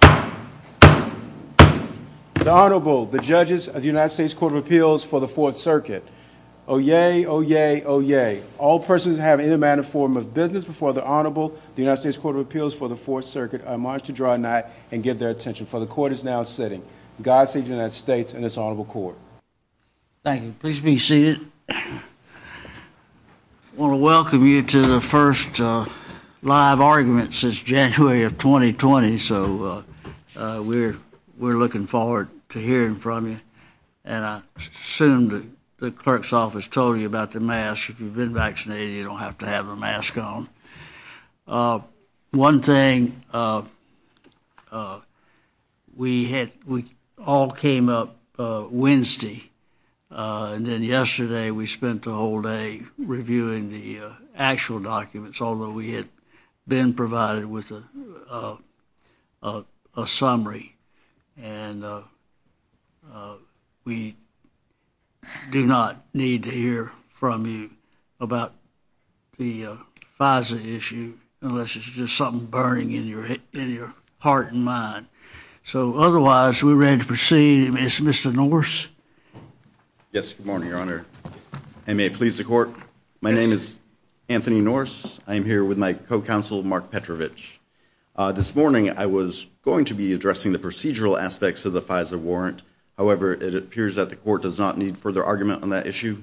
The Honorable, the Judges of the United States Court of Appeals for the Fourth Circuit. Oyez, oyez, oyez. All persons who have any manner or form of business before the Honorable, the United States Court of Appeals for the Fourth Circuit are admonished to draw a knight and give their attention. For the Court is now sitting. God save the United States and this Honorable Court. Thank you. Please be seated. I want to welcome you to the first live argument since January of 2020, so we're looking forward to hearing from you. And I assume the clerk's office told you about the mask. If you've been vaccinated, you don't have to have a mask on. One thing, we all came up Wednesday, and then yesterday we spent the whole day reviewing the actual documents, although we had been provided with a summary. And we do not need to hear from you about the Pfizer issue unless it's just something burning in your heart and mind. So otherwise, we're ready to proceed. It's Mr. Norse. Yes, good morning, Your Honor. I may please the Court. My name is Anthony Norse. I am here with my co-counsel, Mark Petrovich. This morning, I was going to be addressing the procedural aspects of the Pfizer warrant. However, it appears that the Court does not need further argument on that issue.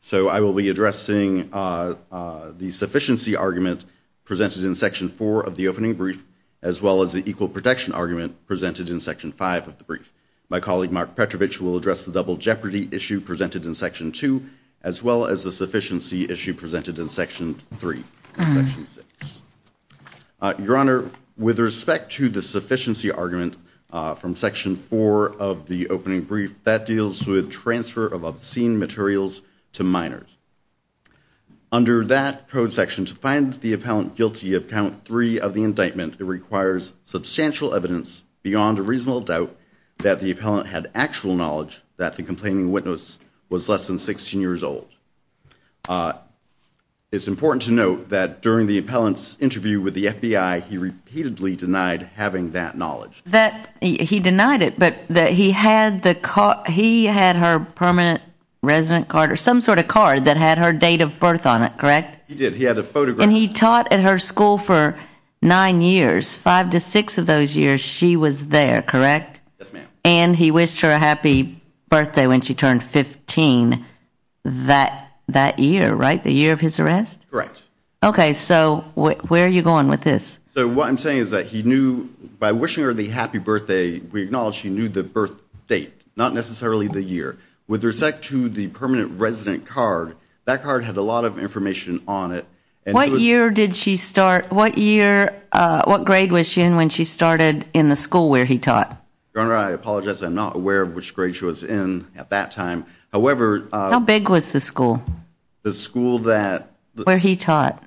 So I will be addressing the sufficiency argument presented in Section 4 of the opening brief, as well as the equal protection argument presented in Section 5 of the brief. My colleague, Mark Petrovich, will address the double jeopardy issue presented in Section 2, as well as the sufficiency issue presented in Section 3 of Section 6. Your Honor, with respect to the sufficiency argument from Section 4 of the opening brief, that deals with transfer of obscene materials to minors. Under that code section, to find the appellant guilty of count 3 of the indictment, it requires substantial evidence beyond a reasonable doubt that the appellant had actual knowledge that the complaining witness was less than 16 years old. It's important to note that during the appellant's interview with the FBI, he repeatedly denied having that knowledge. He denied it, but he had her permanent resident card or some sort of card that had her date of birth on it, correct? He did. He had a photograph. And he taught at her school for nine years. Five to six of those years, she was there, correct? Yes, ma'am. And he wished her a happy birthday when she turned 15 that year, right? The year of his arrest? Correct. Okay, so where are you going with this? So what I'm saying is that he knew, by wishing her the happy birthday, we acknowledge he knew the birth date, not necessarily the year. With respect to the permanent resident card, that card had a lot of information on it. What year did she start? What year, what grade was she in when she started in the school where he taught? Your Honor, I apologize. I'm not aware of which grade she was in at that time. However... How big was the school? The school that... Where he taught.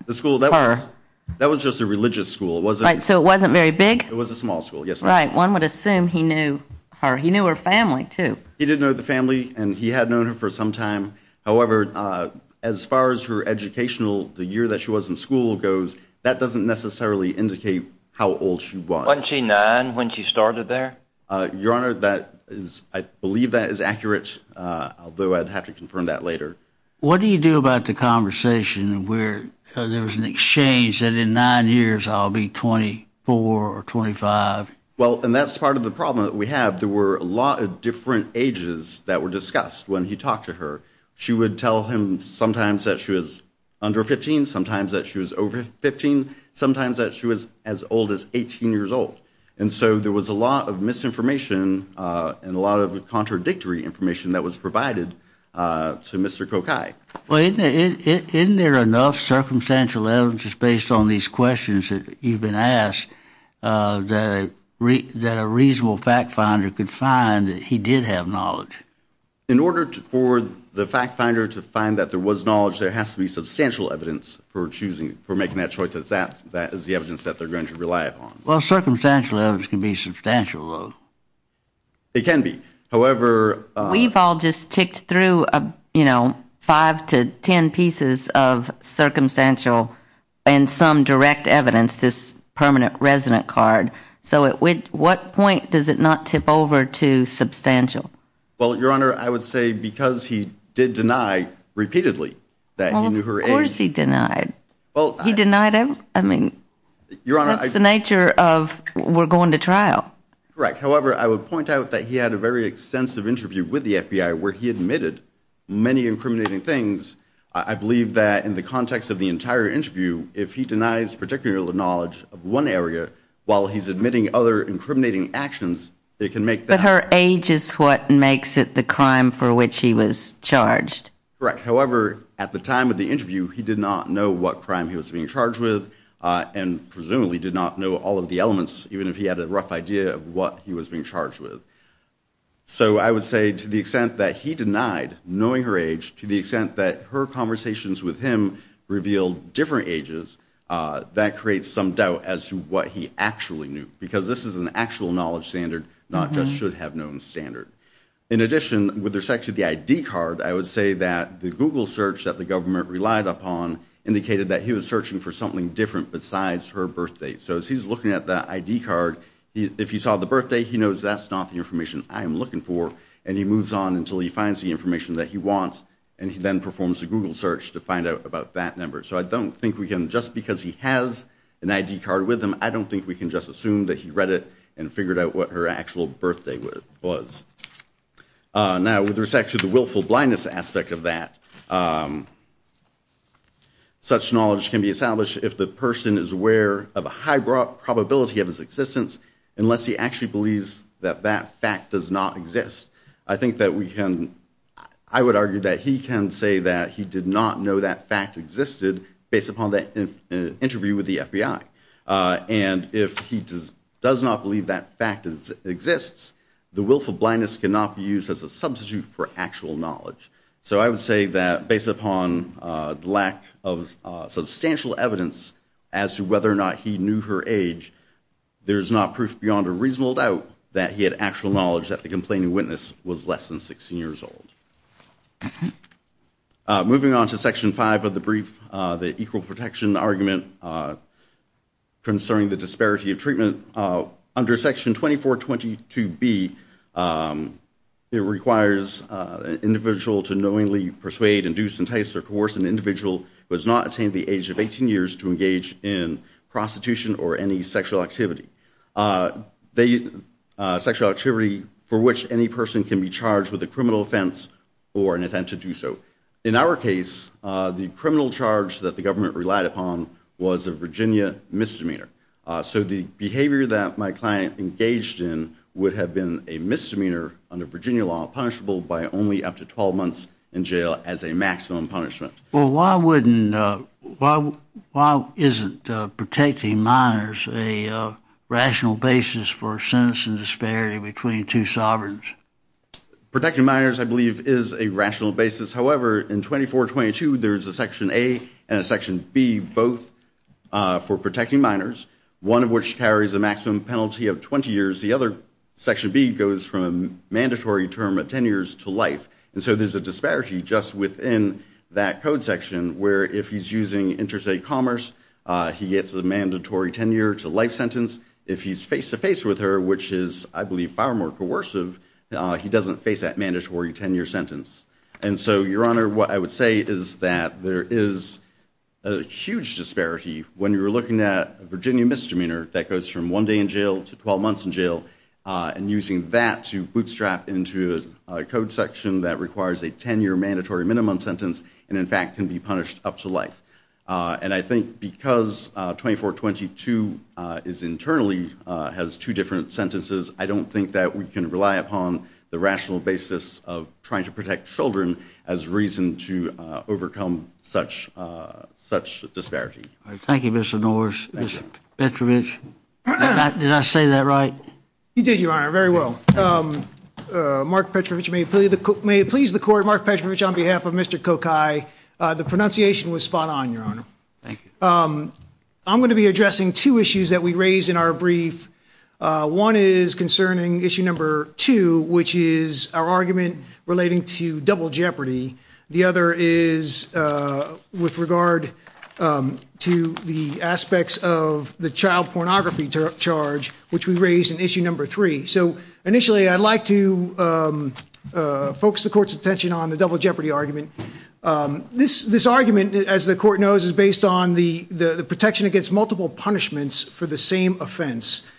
That was just a religious school. Right, so it wasn't very big? It was a small school, yes, ma'am. Right, one would assume he knew her. He knew her family, too. He did know the family, and he had known her for some time. However, as far as her educational, the year that she was in school goes, that doesn't necessarily indicate how old she was. Wasn't she nine when she started there? Your Honor, I believe that is accurate, although I'd have to confirm that later. What do you do about the conversation where there was an exchange that in nine years I'll be 24 or 25? Well, and that's part of the problem that we have. There were a lot of different ages that were discussed when he talked to her. She would tell him sometimes that she was under 15, sometimes that she was over 15, sometimes that she was as old as 18 years old. And so there was a lot of misinformation and a lot of contradictory information that was provided to Mr. Kokai. Well, isn't there enough circumstantial evidence just based on these questions that you've been asked that a reasonable fact finder could find that he did have knowledge? In order for the fact finder to find that there was knowledge, there has to be substantial evidence for making that choice. That is the evidence that they're going to rely upon. Well, circumstantial evidence can be substantial, though. It can be. We've all just ticked through five to ten pieces of circumstantial and some direct evidence, this permanent resident card. So at what point does it not tip over to substantial? Well, Your Honor, I would say because he did deny repeatedly that he knew her age. Of course he denied. He denied it? I mean, that's the nature of we're going to trial. Correct. However, I would point out that he had a very extensive interview with the FBI where he admitted many incriminating things. I believe that in the context of the entire interview, if he denies particular knowledge of one area while he's admitting other incriminating actions, it can make that. But her age is what makes it the crime for which he was charged. Correct. However, at the time of the interview, he did not know what crime he was being charged with and presumably did not know all of the elements, even if he had a rough idea of what he was being charged with. So I would say to the extent that he denied knowing her age to the extent that her conversations with him revealed different ages, that creates some doubt as to what he actually knew because this is an actual knowledge standard, not just should have known standard. In addition, with respect to the ID card, I would say that the Google search that the government relied upon indicated that he was searching for something different besides her birthday. So as he's looking at that ID card, if he saw the birthday, he knows that's not the information I am looking for, and he moves on until he finds the information that he wants, and he then performs a Google search to find out about that number. So I don't think we can, just because he has an ID card with him, I don't think we can just assume that he read it and figured out what her actual birthday was. Now, with respect to the willful blindness aspect of that, such knowledge can be established if the person is aware of a high probability of his existence, unless he actually believes that that fact does not exist. I think that we can, I would argue that he can say that he did not know that fact existed based upon that interview with the FBI. And if he does not believe that fact exists, the willful blindness cannot be used as a substitute for actual knowledge. So I would say that based upon lack of substantial evidence as to whether or not he knew her age, there is not proof beyond a reasonable doubt that he had actual knowledge that the complaining witness was less than 16 years old. Moving on to Section 5 of the brief, the equal protection argument concerning the disparity of treatment. Under Section 2422B, it requires an individual to knowingly persuade, induce, entice, or coerce an individual who has not attained the age of 18 years to engage in prostitution or any sexual activity. Sexual activity for which any person can be charged with a criminal offense or an attempt to do so. In our case, the criminal charge that the government relied upon was a Virginia misdemeanor. So the behavior that my client engaged in would have been a misdemeanor under Virginia law, punishable by only up to 12 months in jail as a maximum punishment. Well, why isn't protecting minors a rational basis for sentencing disparity between two sovereigns? Protecting minors, I believe, is a rational basis. However, in 2422, there is a Section A and a Section B both for protecting minors, one of which carries a maximum penalty of 20 years. The other, Section B, goes from a mandatory term of 10 years to life. And so there's a disparity just within that code section where if he's using interstate commerce, he gets a mandatory 10-year-to-life sentence. If he's face-to-face with her, which is, I believe, far more coercive, he doesn't face that mandatory 10-year sentence. And so, Your Honor, what I would say is that there is a huge disparity when you're looking at a Virginia misdemeanor that goes from one day in jail to 12 months in jail, and using that to bootstrap into a code section that requires a 10-year mandatory minimum sentence and, in fact, can be punished up to life. And I think because 2422 internally has two different sentences, I don't think that we can rely upon the rational basis of trying to protect children as reason to overcome such disparity. Thank you, Mr. Norris. Mr. Petrovich, did I say that right? You did, Your Honor, very well. Mark Petrovich, may it please the Court, Mark Petrovich, on behalf of Mr. Kokai, the pronunciation was spot-on, Your Honor. Thank you. I'm going to be addressing two issues that we raised in our brief. One is concerning issue number two, which is our argument relating to double jeopardy. The other is with regard to the aspects of the child pornography charge, which we raised in issue number three. So initially I'd like to focus the Court's attention on the double jeopardy argument. This argument, as the Court knows, is based on the protection against multiple punishments for the same offense.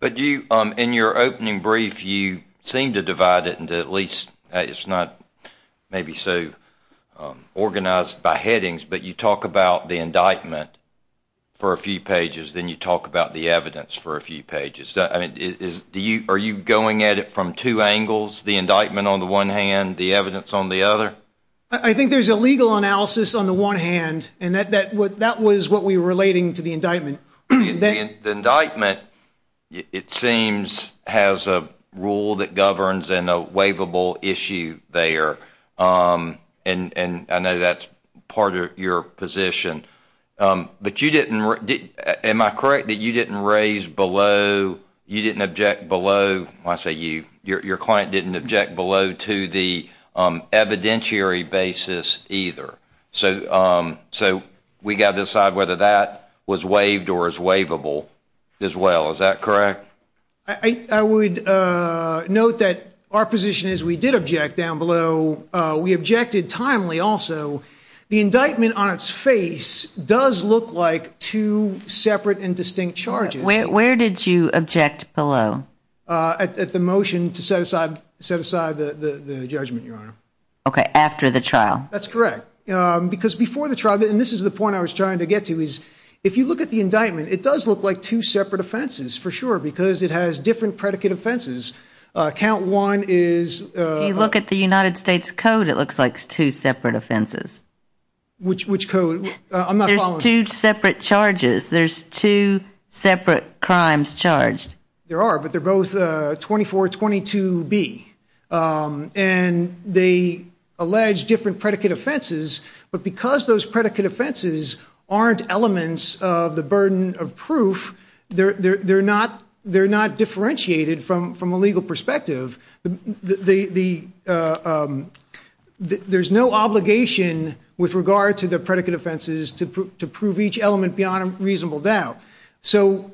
But in your opening brief, you seem to divide it into at least, it's not maybe so organized by headings, but you talk about the indictment for a few pages, then you talk about the evidence for a few pages. Are you going at it from two angles, the indictment on the one hand, the evidence on the other? I think there's a legal analysis on the one hand, and that was what we were relating to the indictment. The indictment, it seems, has a rule that governs and a waivable issue there, and I know that's part of your position. But you didn't, am I correct that you didn't raise below, you didn't object below, when I say you, your client didn't object below to the evidentiary basis either. So we got to decide whether that was waived or is waivable as well, is that correct? I would note that our position is we did object down below. We objected timely also. The indictment on its face does look like two separate and distinct charges. Where did you object below? At the motion to set aside the judgment, Your Honor. Okay, after the trial. That's correct. Because before the trial, and this is the point I was trying to get to, is if you look at the indictment, it does look like two separate offenses for sure because it has different predicate offenses. Count one is... If you look at the United States Code, it looks like it's two separate offenses. Which code? I'm not following. There's two separate charges. There's two separate crimes charged. There are, but they're both 2422B. And they allege different predicate offenses. But because those predicate offenses aren't elements of the burden of proof, they're not differentiated from a legal perspective. There's no obligation with regard to the predicate offenses to prove each element beyond a reasonable doubt. So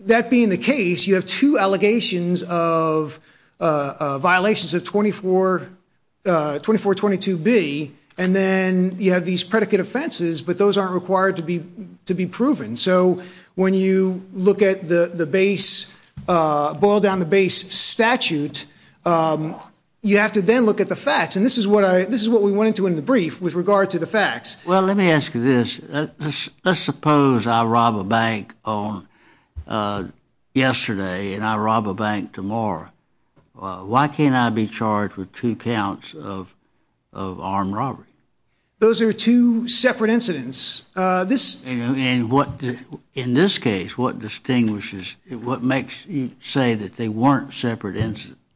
that being the case, you have two allegations of violations of 2422B, and then you have these predicate offenses, but those aren't required to be proven. So when you look at the base, boil down the base statute, you have to then look at the facts. And this is what we went into in the brief with regard to the facts. Well, let me ask you this. Let's suppose I rob a bank yesterday and I rob a bank tomorrow. Why can't I be charged with two counts of armed robbery? Those are two separate incidents. In this case, what distinguishes, what makes you say that they weren't separate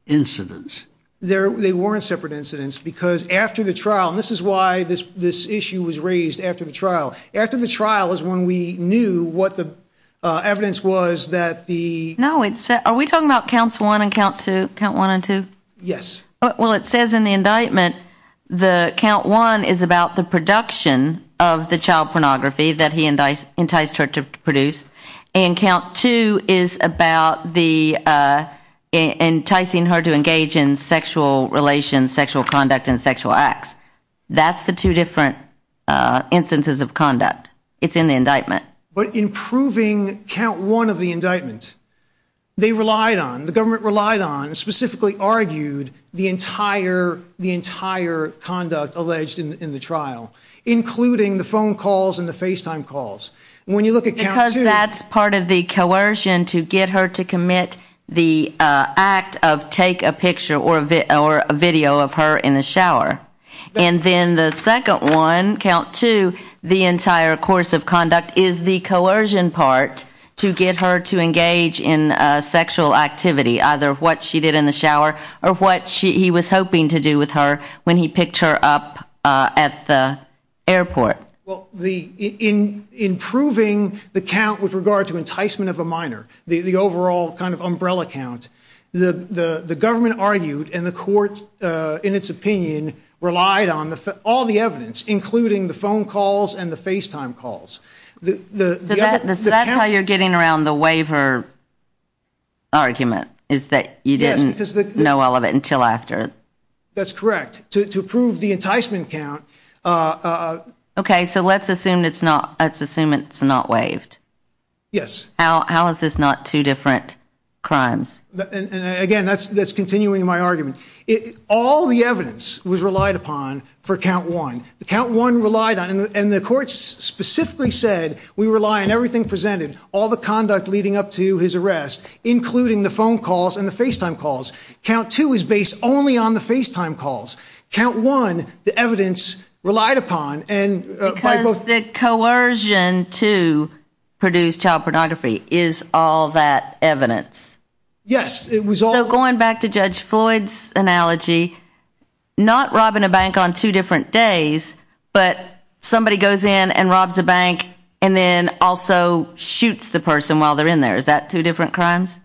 incidents? They weren't separate incidents because after the trial, and this is why this issue was raised after the trial, after the trial is when we knew what the evidence was that the... No, are we talking about counts one and count two? Yes. Well, it says in the indictment that count one is about the production of the child pornography that he enticed her to produce, and count two is about enticing her to engage in sexual relations, sexual conduct, and sexual acts. That's the two different instances of conduct. It's in the indictment. But in proving count one of the indictment, they relied on, the government relied on, and specifically argued the entire conduct alleged in the trial, including the phone calls and the FaceTime calls. When you look at count two... Because that's part of the coercion to get her to commit the act of take a picture or a video of her in the shower. And then the second one, count two, the entire course of conduct is the coercion part to get her to engage in sexual activity, either what she did in the shower or what he was hoping to do with her when he picked her up at the airport. Well, in proving the count with regard to enticement of a minor, the overall kind of umbrella count, the government argued and the court, in its opinion, relied on all the evidence, including the phone calls and the FaceTime calls. So that's how you're getting around the waiver argument, is that you didn't know all of it until after. That's correct. To prove the enticement count... Okay, so let's assume it's not waived. Yes. How is this not two different crimes? Again, that's continuing my argument. All the evidence was relied upon for count one. The count one relied on, and the court specifically said, we rely on everything presented, all the conduct leading up to his arrest, including the phone calls and the FaceTime calls. Count two is based only on the FaceTime calls. Count one, the evidence relied upon and by both... Is all that evidence? Yes, it was all... So going back to Judge Floyd's analogy, not robbing a bank on two different days, but somebody goes in and robs a bank and then also shoots the person while they're in there, is that two different crimes?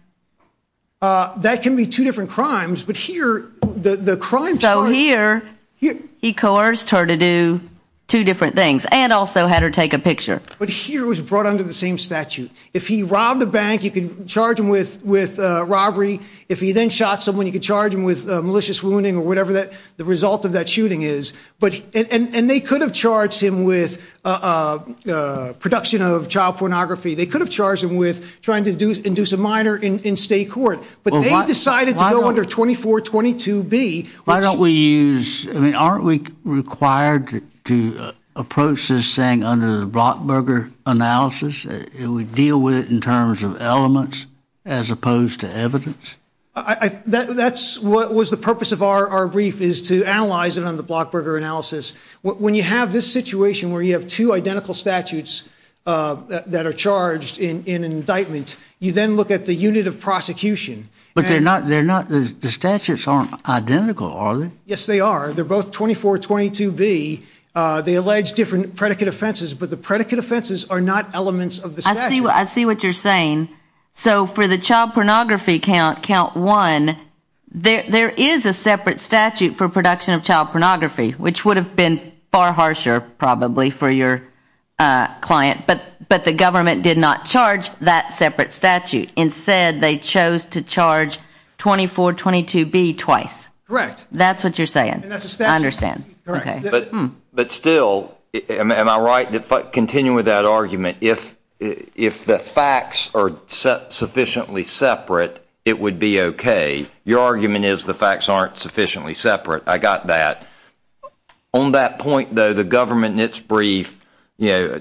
That can be two different crimes, but here the crime... So here he coerced her to do two different things and also had her take a picture. But here it was brought under the same statute. If he robbed a bank, you could charge him with robbery. If he then shot someone, you could charge him with malicious wounding or whatever the result of that shooting is. And they could have charged him with production of child pornography. They could have charged him with trying to induce a minor in state court. But they decided to go under 2422B. Why don't we use... Aren't we required to approach this thing under the Brockberger analysis? It would deal with it in terms of elements as opposed to evidence? That's what was the purpose of our brief, is to analyze it under the Brockberger analysis. When you have this situation where you have two identical statutes that are charged in an indictment, you then look at the unit of prosecution. But they're not... The statutes aren't identical, are they? Yes, they are. They're both 2422B. They allege different predicate offenses, but the predicate offenses are not elements of the statute. I see what you're saying. So for the child pornography count, count one, there is a separate statute for production of child pornography, which would have been far harsher, probably, for your client. But the government did not charge that separate statute. Instead, they chose to charge 2422B twice. Correct. That's what you're saying. I understand. But still, am I right to continue with that argument? If the facts are sufficiently separate, it would be okay. Your argument is the facts aren't sufficiently separate. I got that. On that point, though, the government in its brief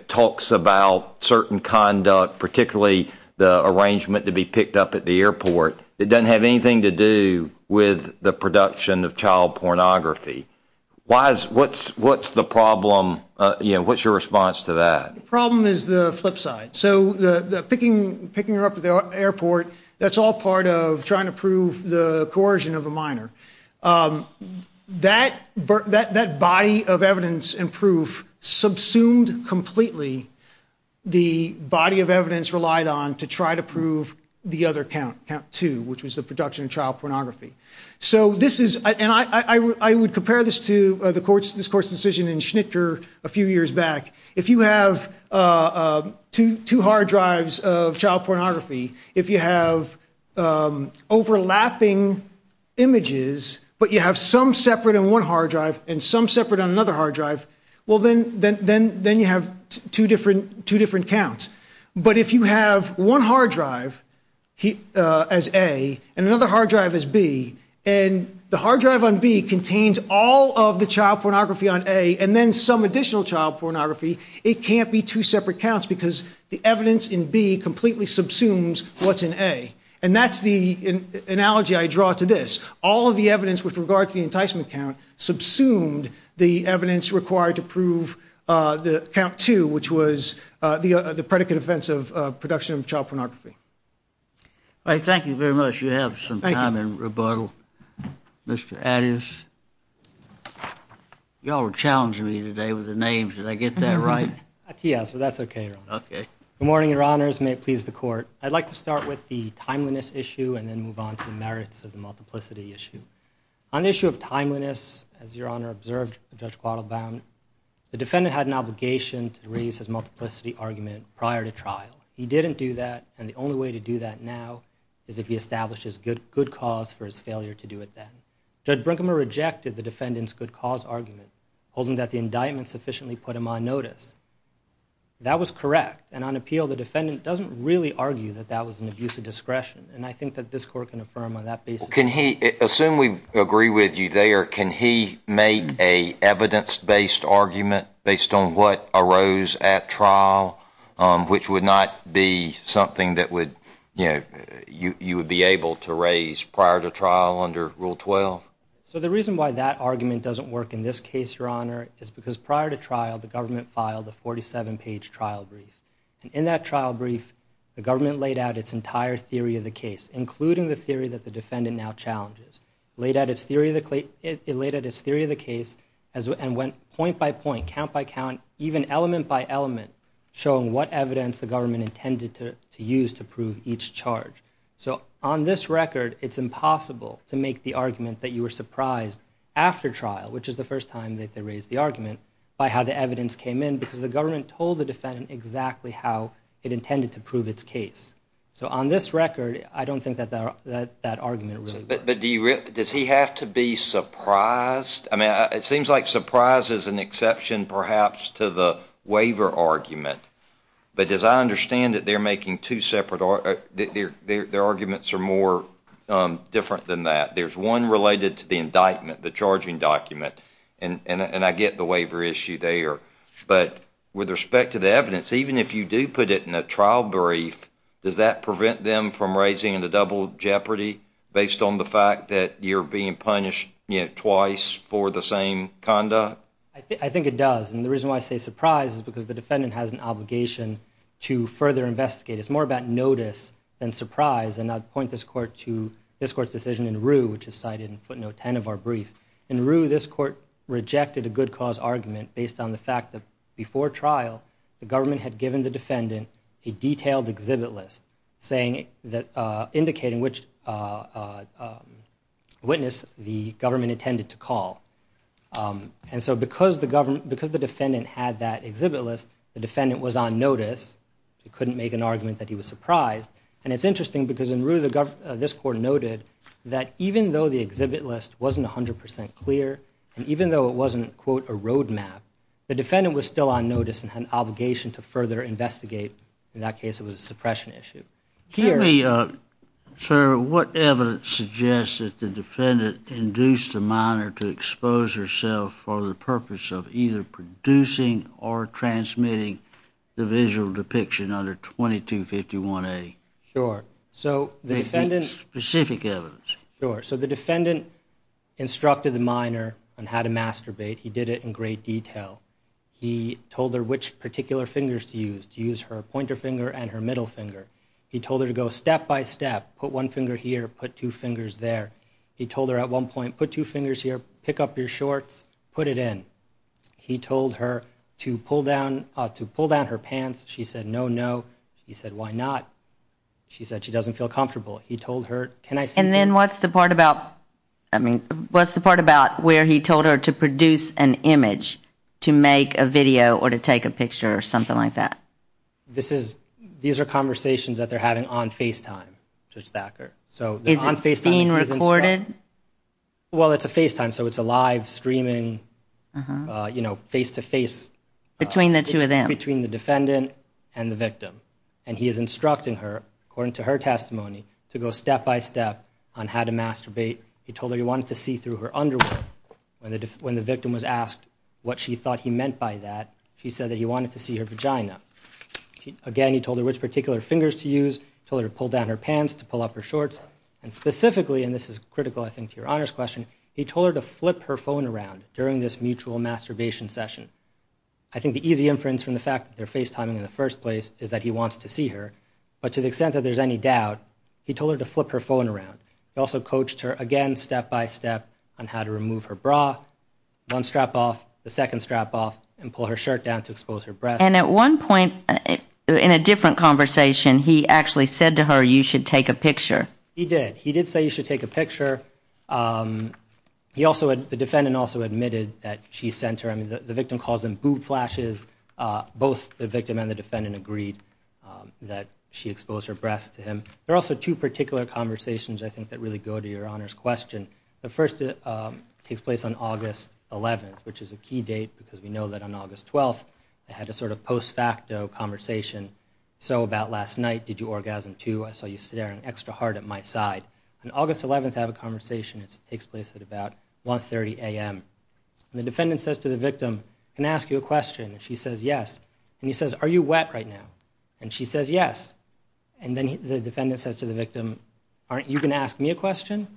talks about certain conduct, particularly the arrangement to be picked up at the airport. It doesn't have anything to do with the production of child pornography. What's the problem? What's your response to that? The problem is the flip side. So picking her up at the airport, that's all part of trying to prove the coercion of a minor. That body of evidence and proof subsumed completely the body of evidence relied on to try to prove the other count, count two, which was the production of child pornography. I would compare this to this court's decision in Schnitger a few years back. If you have two hard drives of child pornography, if you have overlapping images, but you have some separate on one hard drive and some separate on another hard drive, then you have two different counts. But if you have one hard drive as A and another hard drive as B, and the hard drive on B contains all of the child pornography on A and then some additional child pornography, it can't be two separate counts because the evidence in B completely subsumes what's in A. And that's the analogy I draw to this. All of the evidence with regard to the enticement count subsumed the evidence required to prove the count two, which was the predicate offense of production of child pornography. All right, thank you very much. You have some time in rebuttal. Mr. Adias? You all are challenging me today with the names. Did I get that right? Yes, but that's okay, Your Honor. Good morning, Your Honors. May it please the Court. I'd like to start with the timeliness issue and then move on to the merits of the multiplicity issue. On the issue of timeliness, as Your Honor observed Judge Quattlebaum, the defendant had an obligation to raise his multiplicity argument prior to trial. He didn't do that, and the only way to do that now is if he establishes good cause for his failure to do it then. Judge Brinkheimer rejected the defendant's good cause argument, holding that the indictment sufficiently put him on notice. That was correct, and on appeal, the defendant doesn't really argue that that was an abuse of discretion, and I think that this Court can affirm on that basis. Assume we agree with you there, can he make an evidence-based argument based on what arose at trial which would not be something that you would be able to raise prior to trial under Rule 12? So the reason why that argument doesn't work in this case, Your Honor, is because prior to trial the government filed a 47-page trial brief. In that trial brief, the government laid out its entire theory of the case, including the theory that the defendant now challenges. It laid out its theory of the case and went point by point, count by count, even element by element, showing what evidence the government intended to use to prove each charge. So on this record, it's impossible to make the argument that you were surprised after trial, which is the first time that they raised the argument, by how the evidence came in because the government told the defendant exactly how it intended to prove its case. So on this record, I don't think that that argument really works. But does he have to be surprised? It seems like surprise is an exception perhaps to the waiver argument. But as I understand it, their arguments are more different than that. There's one related to the indictment, the charging document, and I get the waiver issue there. But with respect to the evidence, even if you do put it in a trial brief, does that prevent them from raising the double jeopardy based on the fact that you're being punished twice for the same conduct? I think it does. And the reason why I say surprise is because the defendant has an obligation to further investigate. It's more about notice than surprise. And I'd point this court to this court's decision in Rue, which is cited in footnote 10 of our brief. In Rue, this court rejected a good cause argument based on the fact that before trial, the government had given the defendant a detailed exhibit list, indicating which witness the government intended to call. And so because the defendant had that exhibit list, the defendant was on notice. He couldn't make an argument that he was surprised. And it's interesting because in Rue, this court noted that even though the exhibit list wasn't 100% clear and even though it wasn't, quote, a roadmap, the defendant was still on notice and had an obligation to further investigate. In that case, it was a suppression issue. Can you tell me, sir, what evidence suggests that the defendant induced the minor to expose herself for the purpose of either producing or transmitting the visual depiction under 2251A? Sure. So the defendant... Specific evidence. Sure. So the defendant instructed the minor on how to masturbate. He did it in great detail. He told her which particular fingers to use, to use her pointer finger and her middle finger. He told her to go step by step, put one finger here, put two fingers there. He told her at one point, put two fingers here, pick up your shorts, put it in. He told her to pull down her pants. She said, no, no. He said, why not? She said she doesn't feel comfortable. He told her, can I see... And then what's the part about where he told her to produce an image to make a video or to take a picture or something like that? These are conversations that they're having on FaceTime, Judge Thacker. Is it being recorded? Well, it's a FaceTime, so it's a live, streaming, face-to-face. Between the two of them. Between the defendant and the victim. And he is instructing her, according to her testimony, to go step by step on how to masturbate. He told her he wanted to see through her underwear. When the victim was asked what she thought he meant by that, she said that he wanted to see her vagina. Again, he told her which particular fingers to use, told her to pull down her pants, to pull up her shorts. And specifically, and this is critical, I think, to your Honor's question, he told her to flip her phone around during this mutual masturbation session. I think the easy inference from the fact that they're FaceTiming in the first place is that he wants to see her. But to the extent that there's any doubt, he told her to flip her phone around. He also coached her, again, step by step on how to remove her bra. One strap off, the second strap off, and pull her shirt down to expose her breasts. And at one point, in a different conversation, he actually said to her, you should take a picture. The defendant also admitted that she sent her. I mean, the victim calls in boot flashes. Both the victim and the defendant agreed that she exposed her breasts to him. There are also two particular conversations, I think, that really go to your Honor's question. The first takes place on August 11th, which is a key date because we know that on August 12th, they had a sort of post facto conversation. So about last night, did you orgasm too? I saw you staring extra hard at my side. On August 11th, they have a conversation. It takes place at about 1.30 a.m. The defendant says to the victim, can I ask you a question? She says yes. And he says, are you wet right now? And she says yes. And then the defendant says to the victim, aren't you going to ask me a question?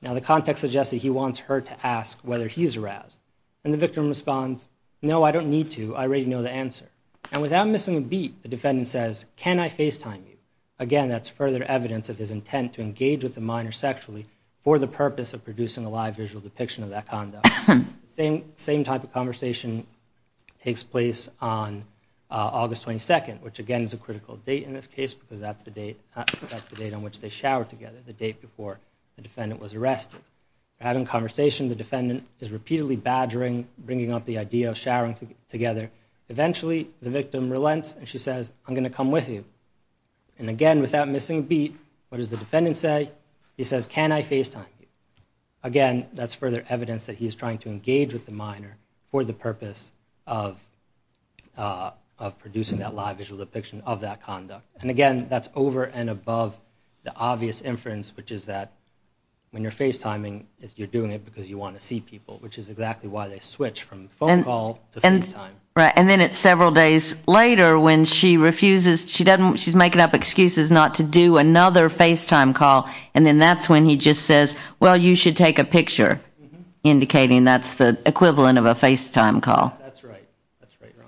Now, the context suggests that he wants her to ask whether he's aroused. And the victim responds, no, I don't need to. I already know the answer. And without missing a beat, the defendant says, can I FaceTime you? Again, that's further evidence of his intent to engage with the minor sexually for the purpose of producing a live visual depiction of that conduct. The same type of conversation takes place on August 22nd, which again is a critical date in this case because that's the date on which they shower together, the date before the defendant was arrested. They're having a conversation. The defendant is repeatedly badgering, bringing up the idea of showering together. Eventually, the victim relents and she says, I'm going to come with you. And again, without missing a beat, what does the defendant say? He says, can I FaceTime you? Again, that's further evidence that he's trying to engage with the minor for the purpose of producing that live visual depiction of that conduct. And again, that's over and above the obvious inference, which is that when you're FaceTiming, you're doing it because you want to see people, which is exactly why they switch from phone call to FaceTime. Right. And then it's several days later when she refuses. She's making up excuses not to do another FaceTime call. And then that's when he just says, well, you should take a picture, indicating that's the equivalent of a FaceTime call. That's right. That's right, Your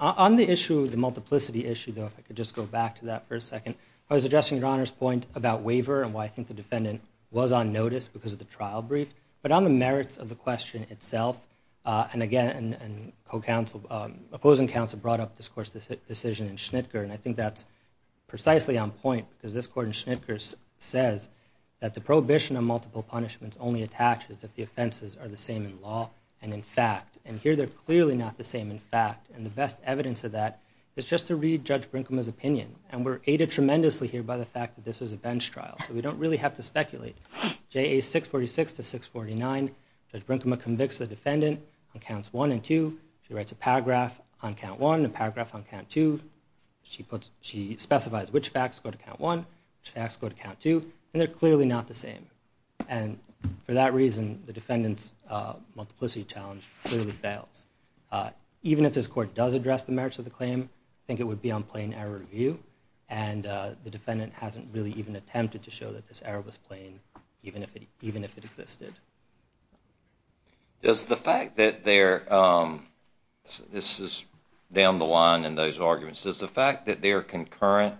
Honor. On the issue, the multiplicity issue, though, if I could just go back to that for a second. I was addressing Your Honor's point about waiver and why I think the defendant was on notice because of the trial brief. But on the merits of the question itself, and again, opposing counsel brought up this court's decision in Schnitger. And I think that's precisely on point because this court in Schnitger says that the prohibition on multiple punishments only attaches if the offenses are the same in law and in fact. And here they're clearly not the same in fact. And the best evidence of that is just to read Judge Brinkman's opinion. And we're aided tremendously here by the fact that this was a bench trial. So we don't really have to speculate. JA 646 to 649, Judge Brinkman convicts the defendant on counts one and two. She writes a paragraph on count one and a paragraph on count two. She specifies which facts go to count one, which facts go to count two. And they're clearly not the same. And for that reason, the defendant's multiplicity challenge clearly fails. Even if this court does address the merits of the claim, I think it would be on plain error review. And the defendant hasn't really even attempted to show that this error was plain, even if it existed. Is the fact that there are, this is down the line in those arguments, is the fact that there are concurrent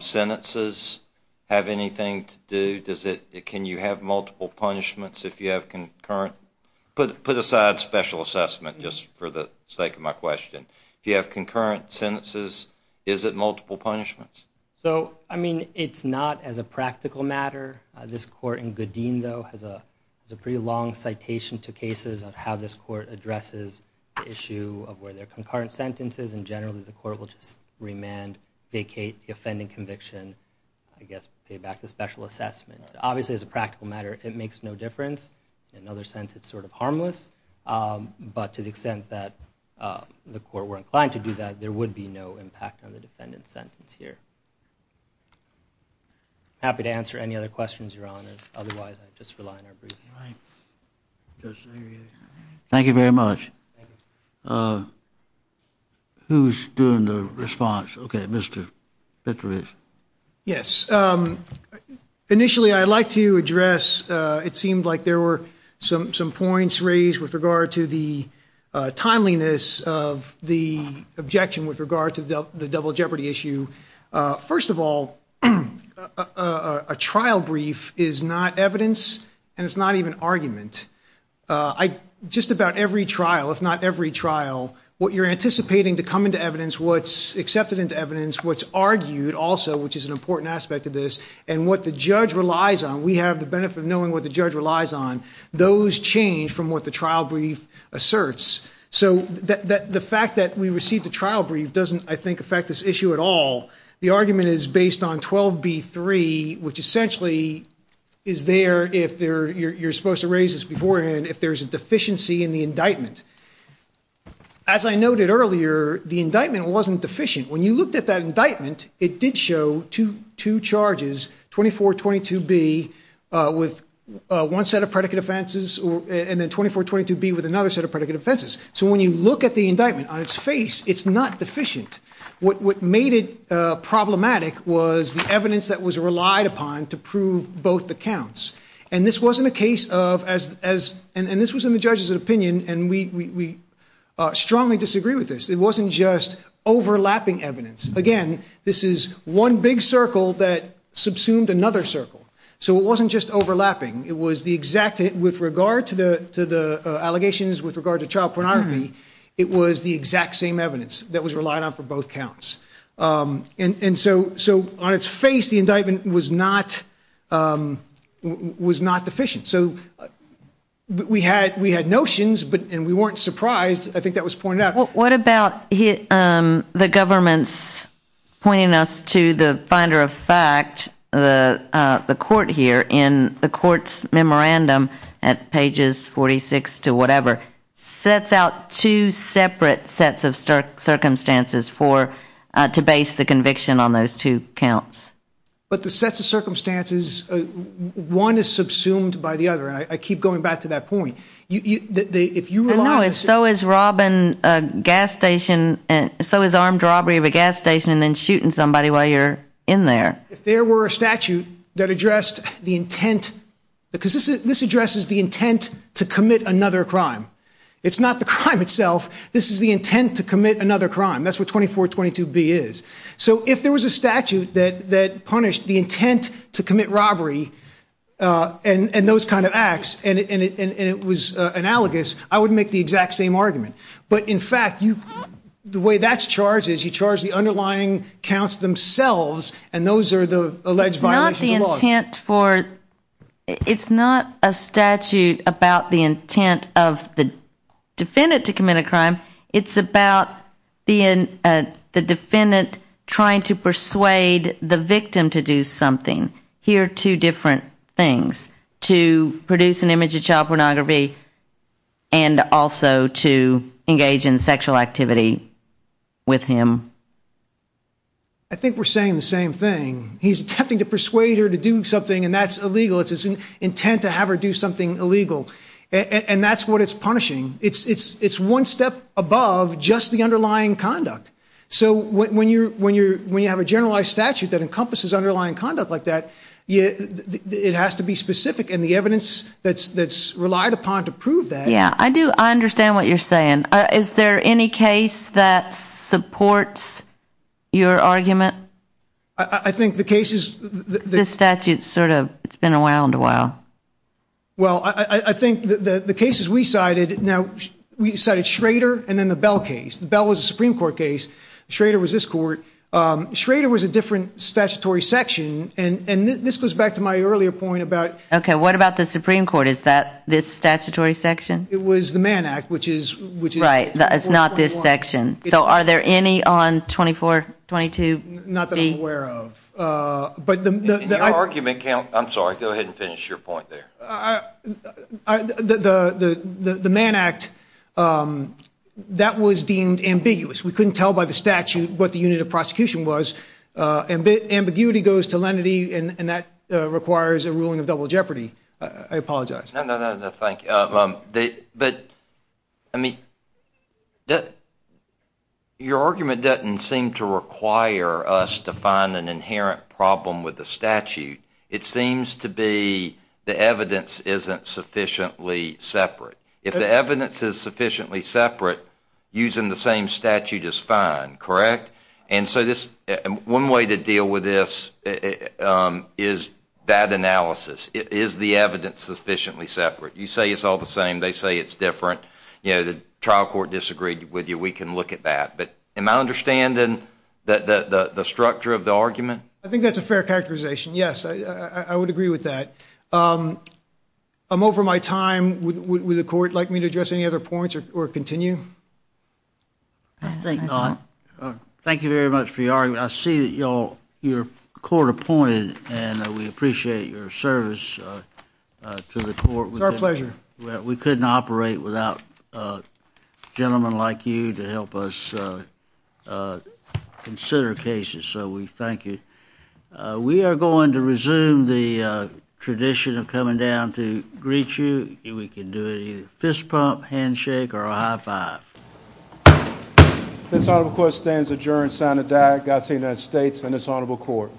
sentences have anything to do? Can you have multiple punishments if you have concurrent? Put aside special assessment just for the sake of my question. If you have concurrent sentences, is it multiple punishments? So, I mean, it's not as a practical matter. This court in Goodeen, though, has a pretty long citation to cases of how this court addresses the issue of where there are concurrent sentences. And generally, the court will just remand, vacate the offending conviction, I guess pay back the special assessment. Obviously, as a practical matter, it makes no difference. In another sense, it's sort of harmless. But to the extent that the court were inclined to do that, there would be no impact on the defendant's sentence here. Happy to answer any other questions, Your Honor. Otherwise, I just rely on our brief. Thank you very much. Who's doing the response? Okay, Mr. Fitzgerald. Yes. Initially, I'd like to address, it seemed like there were some points raised with regard to the timeliness of the objection with regard to the double jeopardy issue. First of all, a trial brief is not evidence and it's not even argument. Just about every trial, if not every trial, what you're anticipating to come into evidence, what's accepted into evidence, what's argued also, which is an important aspect of this, and what the judge relies on. We have the benefit of knowing what the judge relies on. Those change from what the trial brief asserts. So the fact that we received the trial brief doesn't, I think, affect this issue at all. The argument is based on 12B3, which essentially is there, if you're supposed to raise this beforehand, if there's a deficiency in the indictment. As I noted earlier, the indictment wasn't deficient. When you looked at that indictment, it did show two charges, 2422B with one set of predicate offenses and then 2422B with another set of predicate offenses. So when you look at the indictment on its face, it's not deficient. What made it problematic was the evidence that was relied upon to prove both the counts. And this was in the judge's opinion, and we strongly disagree with this. It wasn't just overlapping evidence. Again, this is one big circle that subsumed another circle. So it wasn't just overlapping. With regard to the allegations with regard to child pornography, it was the exact same evidence that was relied on for both counts. So on its face, the indictment was not deficient. So we had notions, and we weren't surprised. I think that was pointed out. What about the government's pointing us to the finder of fact, the court here, in the court's memorandum at pages 46 to whatever, sets out two separate sets of circumstances to base the conviction on those two counts. But the sets of circumstances, one is subsumed by the other. I keep going back to that point. So is robbing a gas station, so is armed robbery of a gas station and then shooting somebody while you're in there. If there were a statute that addressed the intent, because this addresses the intent to commit another crime. It's not the crime itself. This is the intent to commit another crime. That's what 2422B is. So if there was a statute that punished the intent to commit robbery and those kind of acts and it was analogous, I would make the exact same argument. But in fact, the way that's charged is you charge the underlying counts themselves, and those are the alleged violations of the law. It's not a statute about the intent of the defendant to commit a crime. It's about the defendant trying to persuade the victim to do something. Here are two different things, to produce an image of child pornography and also to engage in sexual activity with him. I think we're saying the same thing. He's attempting to persuade her to do something, and that's illegal. It's his intent to have her do something illegal, and that's what it's punishing. It's one step above just the underlying conduct. So when you have a generalized statute that encompasses underlying conduct like that, it has to be specific, and the evidence that's relied upon to prove that. Yeah, I do understand what you're saying. Is there any case that supports your argument? I think the cases that the statute sort of, it's been around a while. Well, I think the cases we cited, now we cited Schrader and then the Bell case. The Bell was a Supreme Court case. Schrader was this court. Schrader was a different statutory section, and this goes back to my earlier point about... Okay, what about the Supreme Court? Is that this statutory section? It was the Mann Act, which is... Right, it's not this section. So are there any on 2422B? Not that I'm aware of. In your argument... I'm sorry, go ahead and finish your point there. The Mann Act, that was deemed ambiguous. We couldn't tell by the statute what the unit of prosecution was. Ambiguity goes to lenity, and that requires a ruling of double jeopardy. I apologize. No, no, no, thank you. But, I mean, your argument doesn't seem to require us to find an inherent problem with the statute. It seems to be the evidence isn't sufficiently separate. If the evidence is sufficiently separate, using the same statute is fine, correct? And so one way to deal with this is bad analysis. Is the evidence sufficiently separate? You say it's all the same. They say it's different. You know, the trial court disagreed with you. We can look at that. But am I understanding the structure of the argument? I think that's a fair characterization, yes. I would agree with that. I'm over my time. Would the court like me to address any other points or continue? I think not. Thank you very much for your argument. I see that your court appointed, and we appreciate your service to the court. It's our pleasure. We couldn't operate without gentlemen like you to help us consider cases. So we thank you. We are going to resume the tradition of coming down to greet you. We can do a fist pump, handshake, or a high five. This honorable court stands adjourned. Signed, Godspeed, United States and this honorable court.